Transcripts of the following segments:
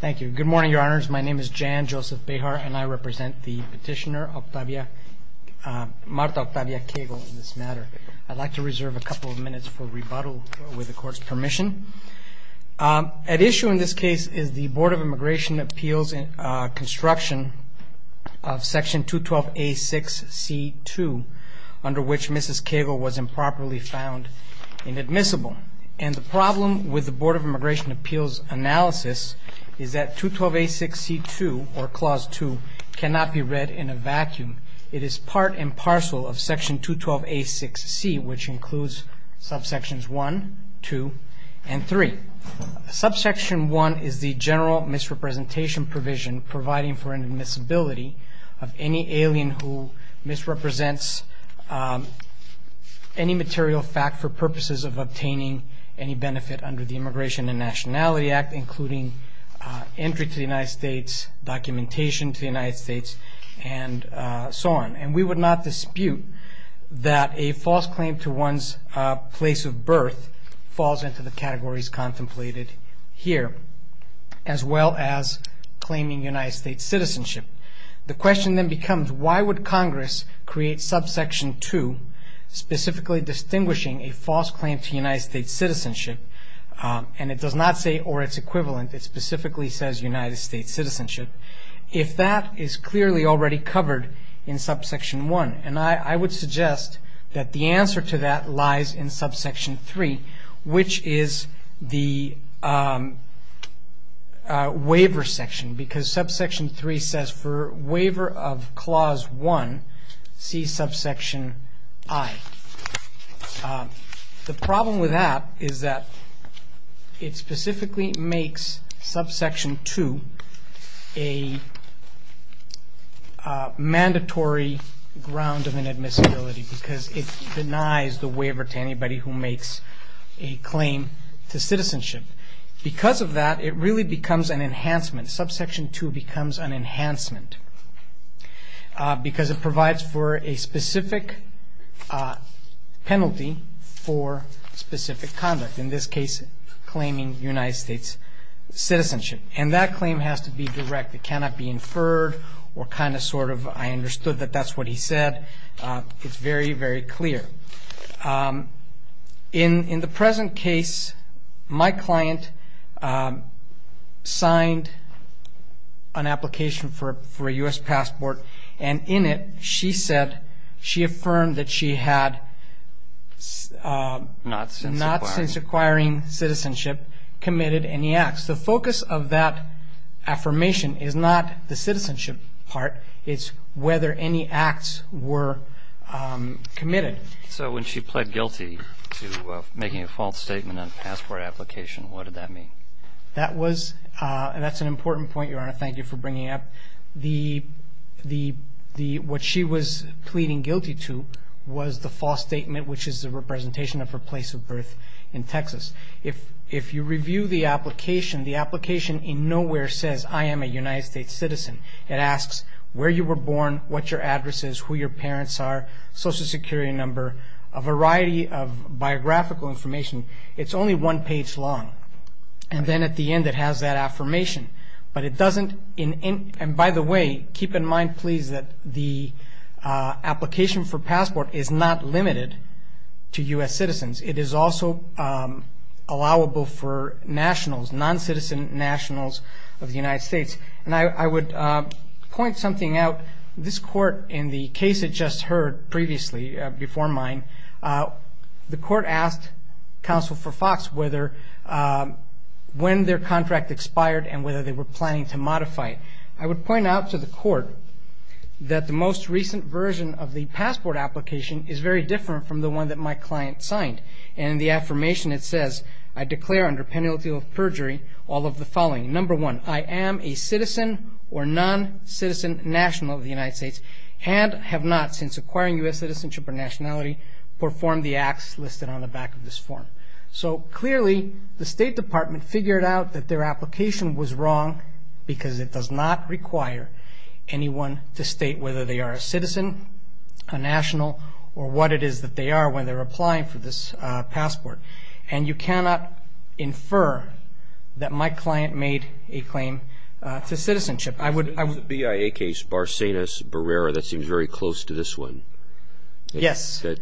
Thank you. Good morning, Your Honors. My name is Jan Joseph Behar, and I represent the petitioner, Martha Octavia Koegel, in this matter. I'd like to reserve a couple of minutes for rebuttal with the Court's permission. At issue in this case is the Board of Immigration Appeals construction of Section 212A6C2, under which Mrs. Koegel was improperly found inadmissible. And the problem with the Board of Immigration Appeals analysis is that 212A6C2, or Clause 2, cannot be read in a vacuum. It is part and parcel of Section 212A6C, which includes subsections 1, 2, and 3. Subsection 1 is the general misrepresentation provision providing for inadmissibility of any alien who misrepresents any material fact for purposes of obtaining any benefit under the Immigration and Nationality Act, including entry to the United States, documentation to the United States, and so on. And we would not dispute that a false claim to one's place of birth falls into the categories contemplated here, as well as claiming United States citizenship. The question then becomes, why would Congress create subsection 2, specifically distinguishing a false claim to United States citizenship, and it does not say or its equivalent, it specifically says United States citizenship, if that is clearly already covered in subsection 1? And I would suggest that the answer to that lies in subsection 3, which is the waiver section, because subsection 3 says for waiver of Clause 1, see subsection I. The problem with that is that it specifically makes subsection 2 a mandatory ground of inadmissibility, because it denies the waiver to anybody who makes a claim to citizenship. Because of that, it really becomes an enhancement. Subsection 2 becomes an enhancement, because it provides for a specific penalty for specific conduct, in this case, claiming United States citizenship. And that claim has to be direct. It cannot be inferred or kind of sort of, I understood that that's what he said. It's very, very clear. In the present case, my client signed an application for a U.S. passport, and in it she said she affirmed that she had not since acquiring citizenship committed any acts. The focus of that affirmation is not the citizenship part, it's whether any acts were committed. So when she pled guilty to making a false statement on a passport application, what did that mean? That's an important point, Your Honor. Thank you for bringing it up. What she was pleading guilty to was the false statement, which is a representation of her place of birth in Texas. If you review the application, the application in nowhere says, I am a United States citizen. It asks where you were born, what your address is, who your parents are, social security number, a variety of biographical information. It's only one page long. And then at the end it has that affirmation. But it doesn't, and by the way, keep in mind, please, that the application for passport is not limited to U.S. citizens. It is also allowable for nationals, non-citizen nationals of the United States. And I would point something out. This court in the case it just heard previously before mine, the court asked counsel for Fox whether when their contract expired and whether they were planning to modify it. I would point out to the court that the most recent version of the passport application is very different from the one that my client signed. In the affirmation it says, I declare under penalty of perjury all of the following. Number one, I am a citizen or non-citizen national of the United States and have not since acquiring U.S. citizenship or nationality performed the acts listed on the back of this form. So clearly the State Department figured out that their application was wrong because it does not require anyone to state whether they are a citizen, a national, or what it is that they are when they're applying for this passport. And you cannot infer that my client made a claim to citizenship. In the BIA case, Barsenas Barrera, that seems very close to this one. Yes. That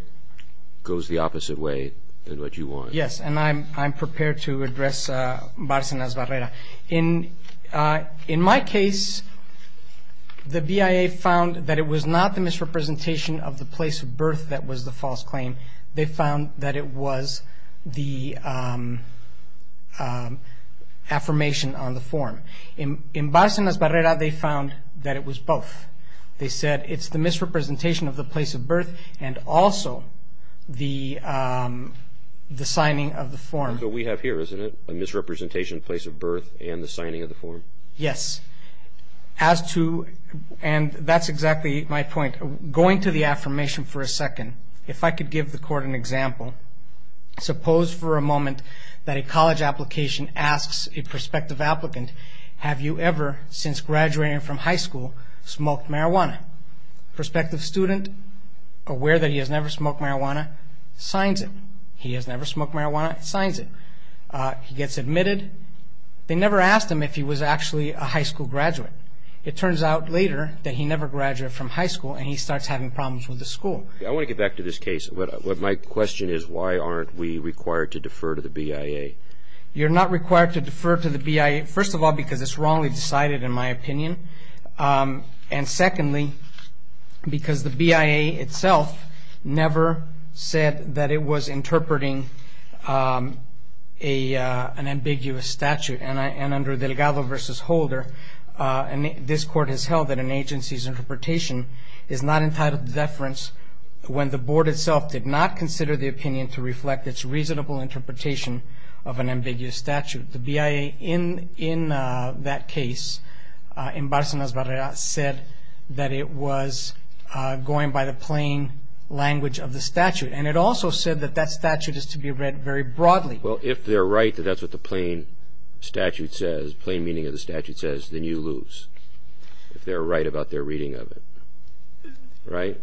goes the opposite way than what you want. Yes, and I'm prepared to address Barsenas Barrera. In my case, the BIA found that it was not the misrepresentation of the place of birth that was the false claim. They found that it was the affirmation on the form. In Barsenas Barrera they found that it was both. They said it's the misrepresentation of the place of birth and also the signing of the form. That's what we have here, isn't it? A misrepresentation of the place of birth and the signing of the form. Yes. As to, and that's exactly my point, going to the affirmation for a second. If I could give the court an example. Suppose for a moment that a college application asks a prospective applicant, have you ever, since graduating from high school, smoked marijuana? Prospective student, aware that he has never smoked marijuana, signs it. He has never smoked marijuana, signs it. He gets admitted. They never asked him if he was actually a high school graduate. It turns out later that he never graduated from high school and he starts having problems with the school. I want to get back to this case. My question is why aren't we required to defer to the BIA? You're not required to defer to the BIA, first of all, because it's wrongly decided, in my opinion, and secondly because the BIA itself never said that it was interpreting an ambiguous statute. And under Delgado v. Holder, this court has held that an agency's interpretation is not entitled to deference when the board itself did not consider the opinion to reflect its reasonable interpretation of an ambiguous statute. The BIA in that case, in Barcenas-Barrera, said that it was going by the plain language of the statute. And it also said that that statute is to be read very broadly. Well, if they're right that that's what the plain statute says, the plain meaning of the statute says, then you lose if they're right about their reading of it. Right?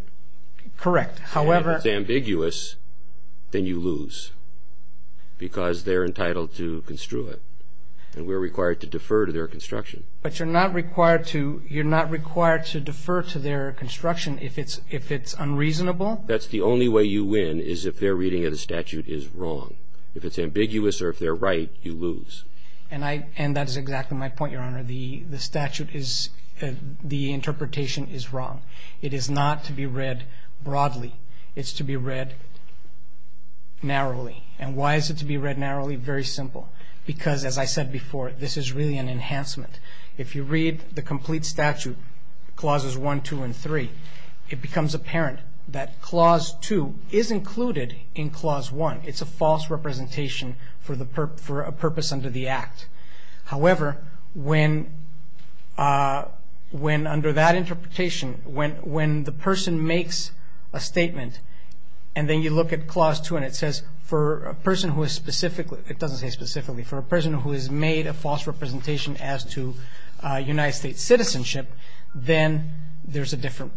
Correct. If it's ambiguous, then you lose because they're entitled to construe it. And we're required to defer to their construction. But you're not required to defer to their construction if it's unreasonable? That's the only way you win is if their reading of the statute is wrong. If it's ambiguous or if they're right, you lose. And that is exactly my point, Your Honor. The statute is the interpretation is wrong. It is not to be read broadly. It's to be read narrowly. And why is it to be read narrowly? Very simple. Because, as I said before, this is really an enhancement. If you read the complete statute, clauses 1, 2, and 3, it becomes apparent that clause 2 is included in clause 1. It's a false representation for a purpose under the Act. However, when under that interpretation, when the person makes a statement and then you look at clause 2 and it says, for a person who is specifically, it doesn't say specifically, for a person who has made a false representation as to United States citizenship, then there's a different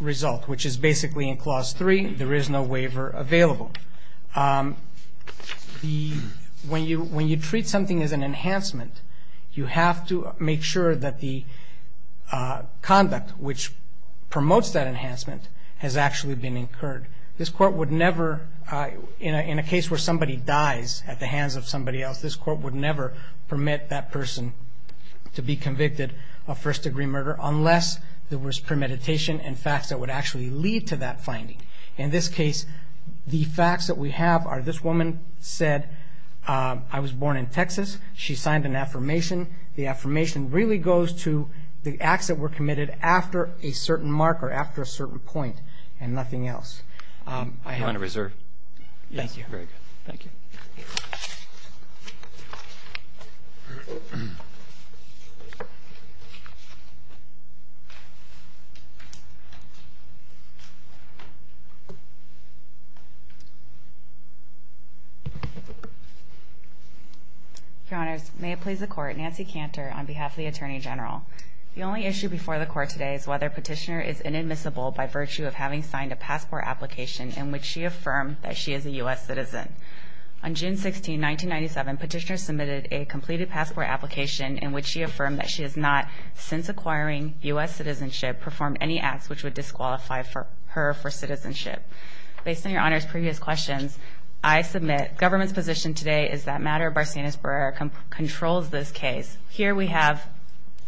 result, which is basically in clause 3, there is no waiver available. When you treat something as an enhancement, you have to make sure that the conduct which promotes that enhancement has actually been incurred. This Court would never, in a case where somebody dies at the hands of somebody else, this Court would never permit that person to be convicted of first-degree murder unless there was premeditation and facts that would actually lead to that finding. In this case, the facts that we have are this woman said, I was born in Texas. She signed an affirmation. The affirmation really goes to the acts that were committed after a certain mark or after a certain point and nothing else. You're on a reserve. Yes. Thank you. Very good. Thank you. Your Honors, may it please the Court, Nancy Cantor on behalf of the Attorney General. The only issue before the Court today is whether Petitioner is inadmissible by virtue of having signed a passport application in which she affirmed that she is a U.S. citizen. On June 16, 1997, Petitioner submitted a completed passport application in which she affirmed that she has not, since acquiring U.S. citizenship, performed any acts which would disqualify her for citizenship. Based on Your Honors' previous questions, I submit government's position today is that matter of Barsanis-Berrera controls this case. Your Honors, here we have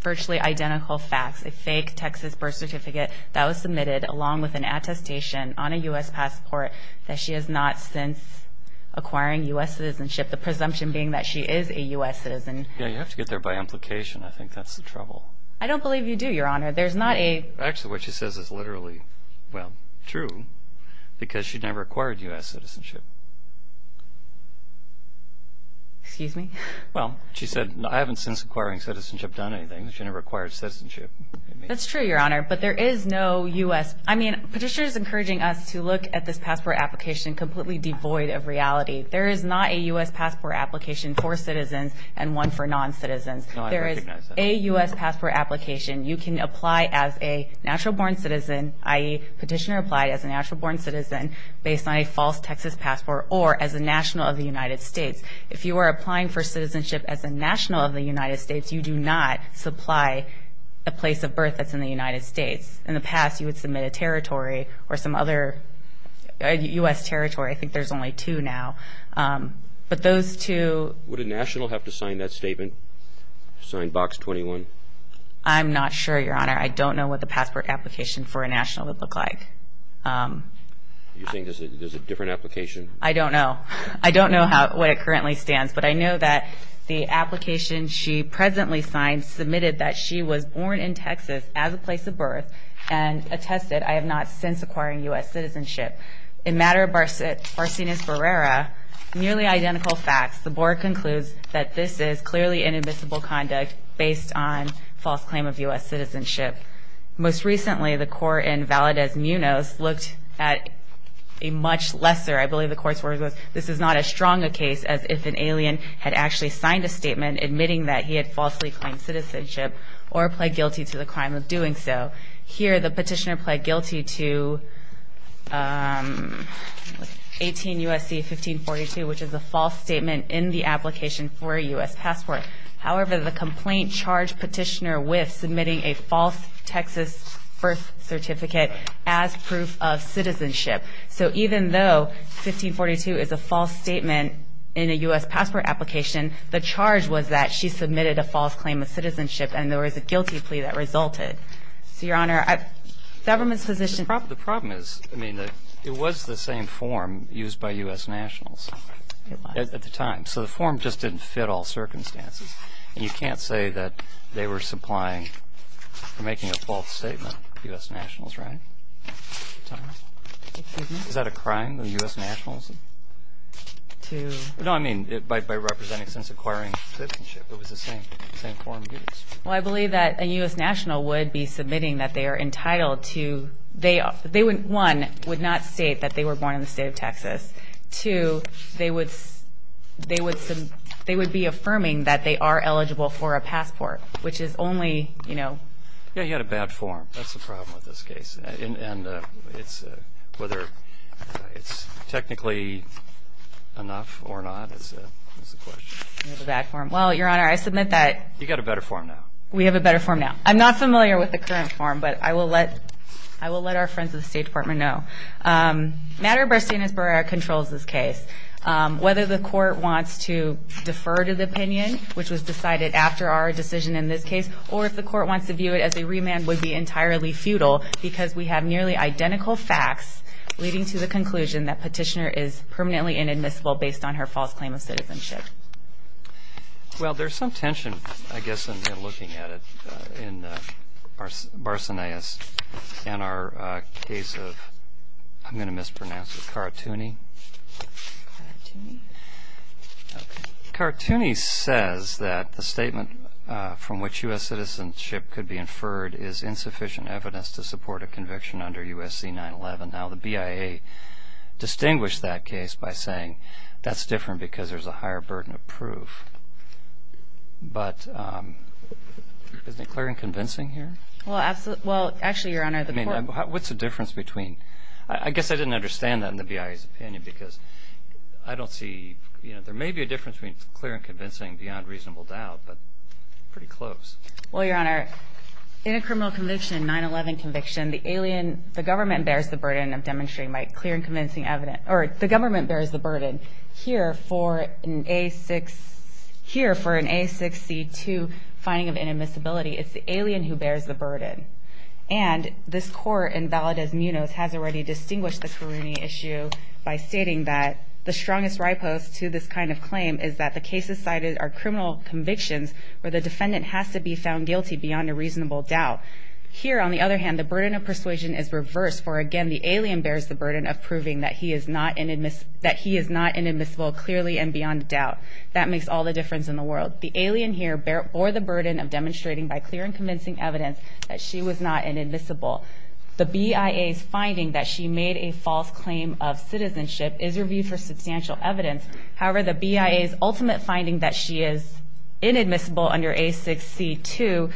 virtually identical facts. A fake Texas birth certificate that was submitted along with an attestation on a U.S. passport that she has not since acquiring U.S. citizenship, the presumption being that she is a U.S. citizen. You have to get there by implication. I think that's the trouble. I don't believe you do, Your Honor. Actually, what she says is literally true because she never acquired U.S. citizenship. Excuse me? Well, she said, I haven't since acquiring citizenship done anything. She never acquired citizenship. That's true, Your Honor, but there is no U.S. I mean, Petitioner is encouraging us to look at this passport application completely devoid of reality. There is not a U.S. passport application for citizens and one for non-citizens. No, I recognize that. There is a U.S. passport application you can apply as a natural-born citizen, i.e., Petitioner applied as a natural-born citizen based on a false Texas passport or as a national of the United States. If you are applying for citizenship as a national of the United States, you do not supply a place of birth that's in the United States. In the past, you would submit a territory or some other U.S. territory. I think there's only two now. But those two – Would a national have to sign that statement, sign Box 21? I'm not sure, Your Honor. I don't know what the passport application for a national would look like. You think there's a different application? I don't know. I don't know what it currently stands, but I know that the application she presently signed submitted that she was born in Texas as a place of birth and attested, I have not since acquired U.S. citizenship. In matter of Barsines Barrera, nearly identical facts. The board concludes that this is clearly inadmissible conduct based on false claim of U.S. citizenship. Most recently, the court in Valdez-Munoz looked at a much lesser – this is not as strong a case as if an alien had actually signed a statement admitting that he had falsely claimed citizenship or pled guilty to the crime of doing so. Here, the petitioner pled guilty to 18 U.S.C. 1542, which is a false statement in the application for a U.S. passport. However, the complaint charged petitioner with submitting a false Texas birth certificate as proof of citizenship. So even though 1542 is a false statement in a U.S. passport application, the charge was that she submitted a false claim of citizenship and there was a guilty plea that resulted. So, Your Honor, government's position – The problem is, I mean, it was the same form used by U.S. nationals at the time. So the form just didn't fit all circumstances. And you can't say that they were supplying or making a false statement, U.S. nationals, right? Is that a crime, the U.S. nationals? No, I mean, by representing since acquiring citizenship, it was the same form used. Well, I believe that a U.S. national would be submitting that they are entitled to – one, would not state that they were born in the state of Texas. Two, they would be affirming that they are eligible for a passport, which is only – Yeah, you had a bad form. That's the problem with this case. And it's – whether it's technically enough or not is the question. You have a bad form. Well, Your Honor, I submit that – You've got a better form now. We have a better form now. I'm not familiar with the current form, but I will let our friends at the State Department know. Matter of fact, Stanisburg controls this case. Whether the court wants to defer to the opinion, which was decided after our decision in this case, or if the court wants to view it as a remand would be entirely futile because we have nearly identical facts leading to the conclusion that Petitioner is permanently inadmissible based on her false claim of citizenship. Well, there's some tension, I guess, in looking at it in Barsonea's and our case of – I'm going to mispronounce it – Caratuni. Caratuni? Caratuni says that the statement from which U.S. citizenship could be inferred is insufficient evidence to support a conviction under U.S.C. 9-11. Now, the BIA distinguished that case by saying that's different because there's a higher burden of proof. But is it clear and convincing here? Well, actually, Your Honor, the court – I mean, what's the difference between – I guess I didn't understand that in the BIA's opinion because I don't see – there may be a difference between clear and convincing beyond reasonable doubt, but pretty close. Well, Your Honor, in a criminal conviction, 9-11 conviction, the government bears the burden of demonstrating by clear and convincing evidence – or the government bears the burden here for an A6C2 finding of inadmissibility. It's the alien who bears the burden. And this court in Valdez-Munoz has already distinguished the Caratuni issue by stating that the strongest riposte to this kind of claim is that the cases cited are criminal convictions where the defendant has to be found guilty beyond a reasonable doubt. Here, on the other hand, the burden of persuasion is reversed, for, again, the alien bears the burden of proving that he is not inadmissible clearly and beyond doubt. That makes all the difference in the world. The alien here bore the burden of demonstrating by clear and convincing evidence that she was not inadmissible. The BIA's finding that she made a false claim of citizenship is reviewed for substantial evidence. However, the BIA's ultimate finding that she is inadmissible under A6C2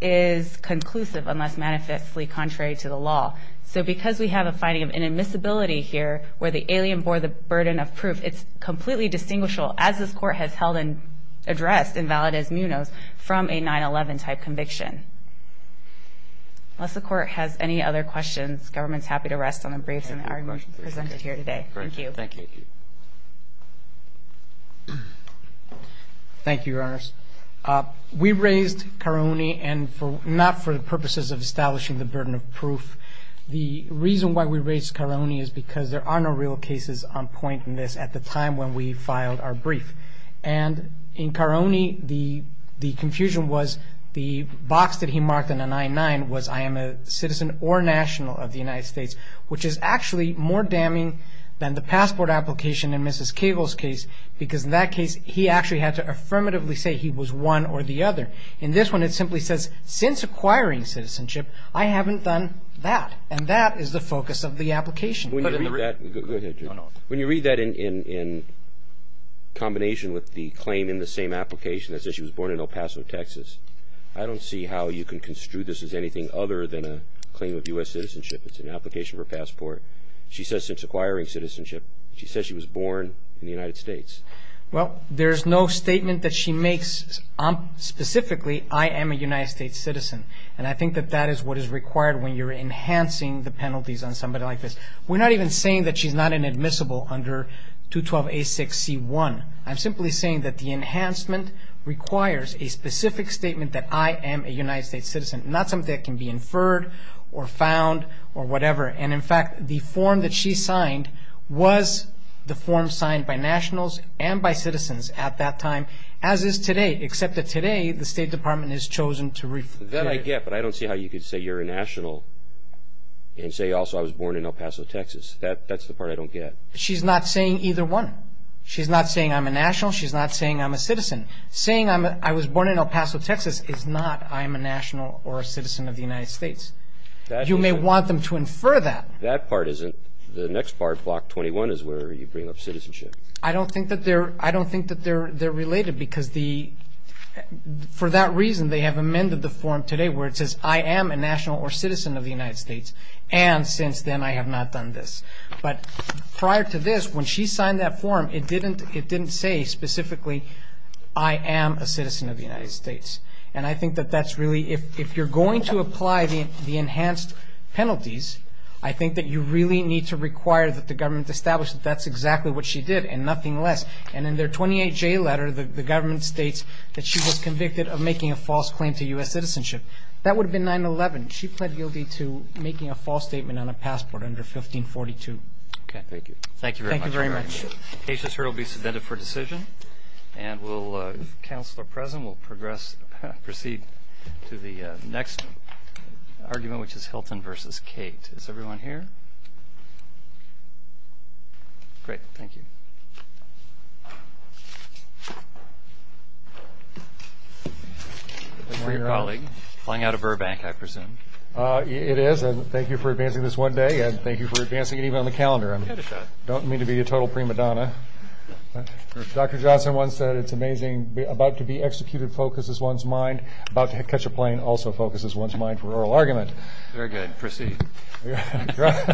is conclusive unless manifestly contrary to the law. So because we have a finding of inadmissibility here where the alien bore the burden of proof, it's completely distinguishable, as this court has held and addressed in Valdez-Munoz, from a 9-11 type conviction. Unless the court has any other questions, government's happy to rest on the briefs that are presented here today. Thank you. Thank you. Thank you, Your Honors. We raised Caratuni not for the purposes of establishing the burden of proof. The reason why we raised Caratuni is because there are no real cases on point in this at the time when we filed our brief. And in Caratuni, the confusion was the box that he marked in a 9-9 was I am a citizen or national of the United States, which is actually more damning than the passport application in Mrs. Cagle's case, because in that case, he actually had to affirmatively say he was one or the other. In this one, it simply says, since acquiring citizenship, I haven't done that. And that is the focus of the application. Go ahead, Jim. When you read that in combination with the claim in the same application that says she was born in El Paso, Texas, I don't see how you can construe this as anything other than a claim of U.S. citizenship. It's an application for passport. She says since acquiring citizenship, she says she was born in the United States. Well, there's no statement that she makes specifically, I am a United States citizen. And I think that that is what is required when you're enhancing the penalties on somebody like this. We're not even saying that she's not inadmissible under 212A6C1. I'm simply saying that the enhancement requires a specific statement that I am a United States citizen, not something that can be inferred or found or whatever. And, in fact, the form that she signed was the form signed by nationals and by citizens at that time, as is today. Except that today, the State Department has chosen to... That I get, but I don't see how you could say you're a national and say, also, I was born in El Paso, Texas. That's the part I don't get. She's not saying either one. She's not saying I'm a national. She's not saying I'm a citizen. Saying I was born in El Paso, Texas is not I'm a national or a citizen of the United States. You may want them to infer that. That part isn't. The next part, Block 21, is where you bring up citizenship. I don't think that they're related because the – for that reason, they have amended the form today where it says I am a national or citizen of the United States, and since then I have not done this. But prior to this, when she signed that form, it didn't say specifically I am a citizen of the United States. And I think that that's really – if you're going to apply the enhanced penalties, I think that you really need to require that the government establish that that's exactly what she did and nothing less. And in their 28-J letter, the government states that she was convicted of making a false claim to U.S. citizenship. That would have been 9-11. She pled guilty to making a false statement on a passport under 1542. Okay, thank you. Thank you very much. Thank you very much. The case is heard. It will be submitted for decision. And we'll – if counsel are present, we'll progress – proceed to the next argument, which is Hilton v. Kate. Is everyone here? Great, thank you. Good morning, colleague. Flying out of Burbank, I presume. It is. And thank you for advancing this one day, and thank you for advancing it even on the calendar. You had a shot. I don't mean to be a total prima donna. Dr. Johnson once said, it's amazing, about to be executed focuses one's mind, about to catch a plane also focuses one's mind for oral argument. Very good. Proceed.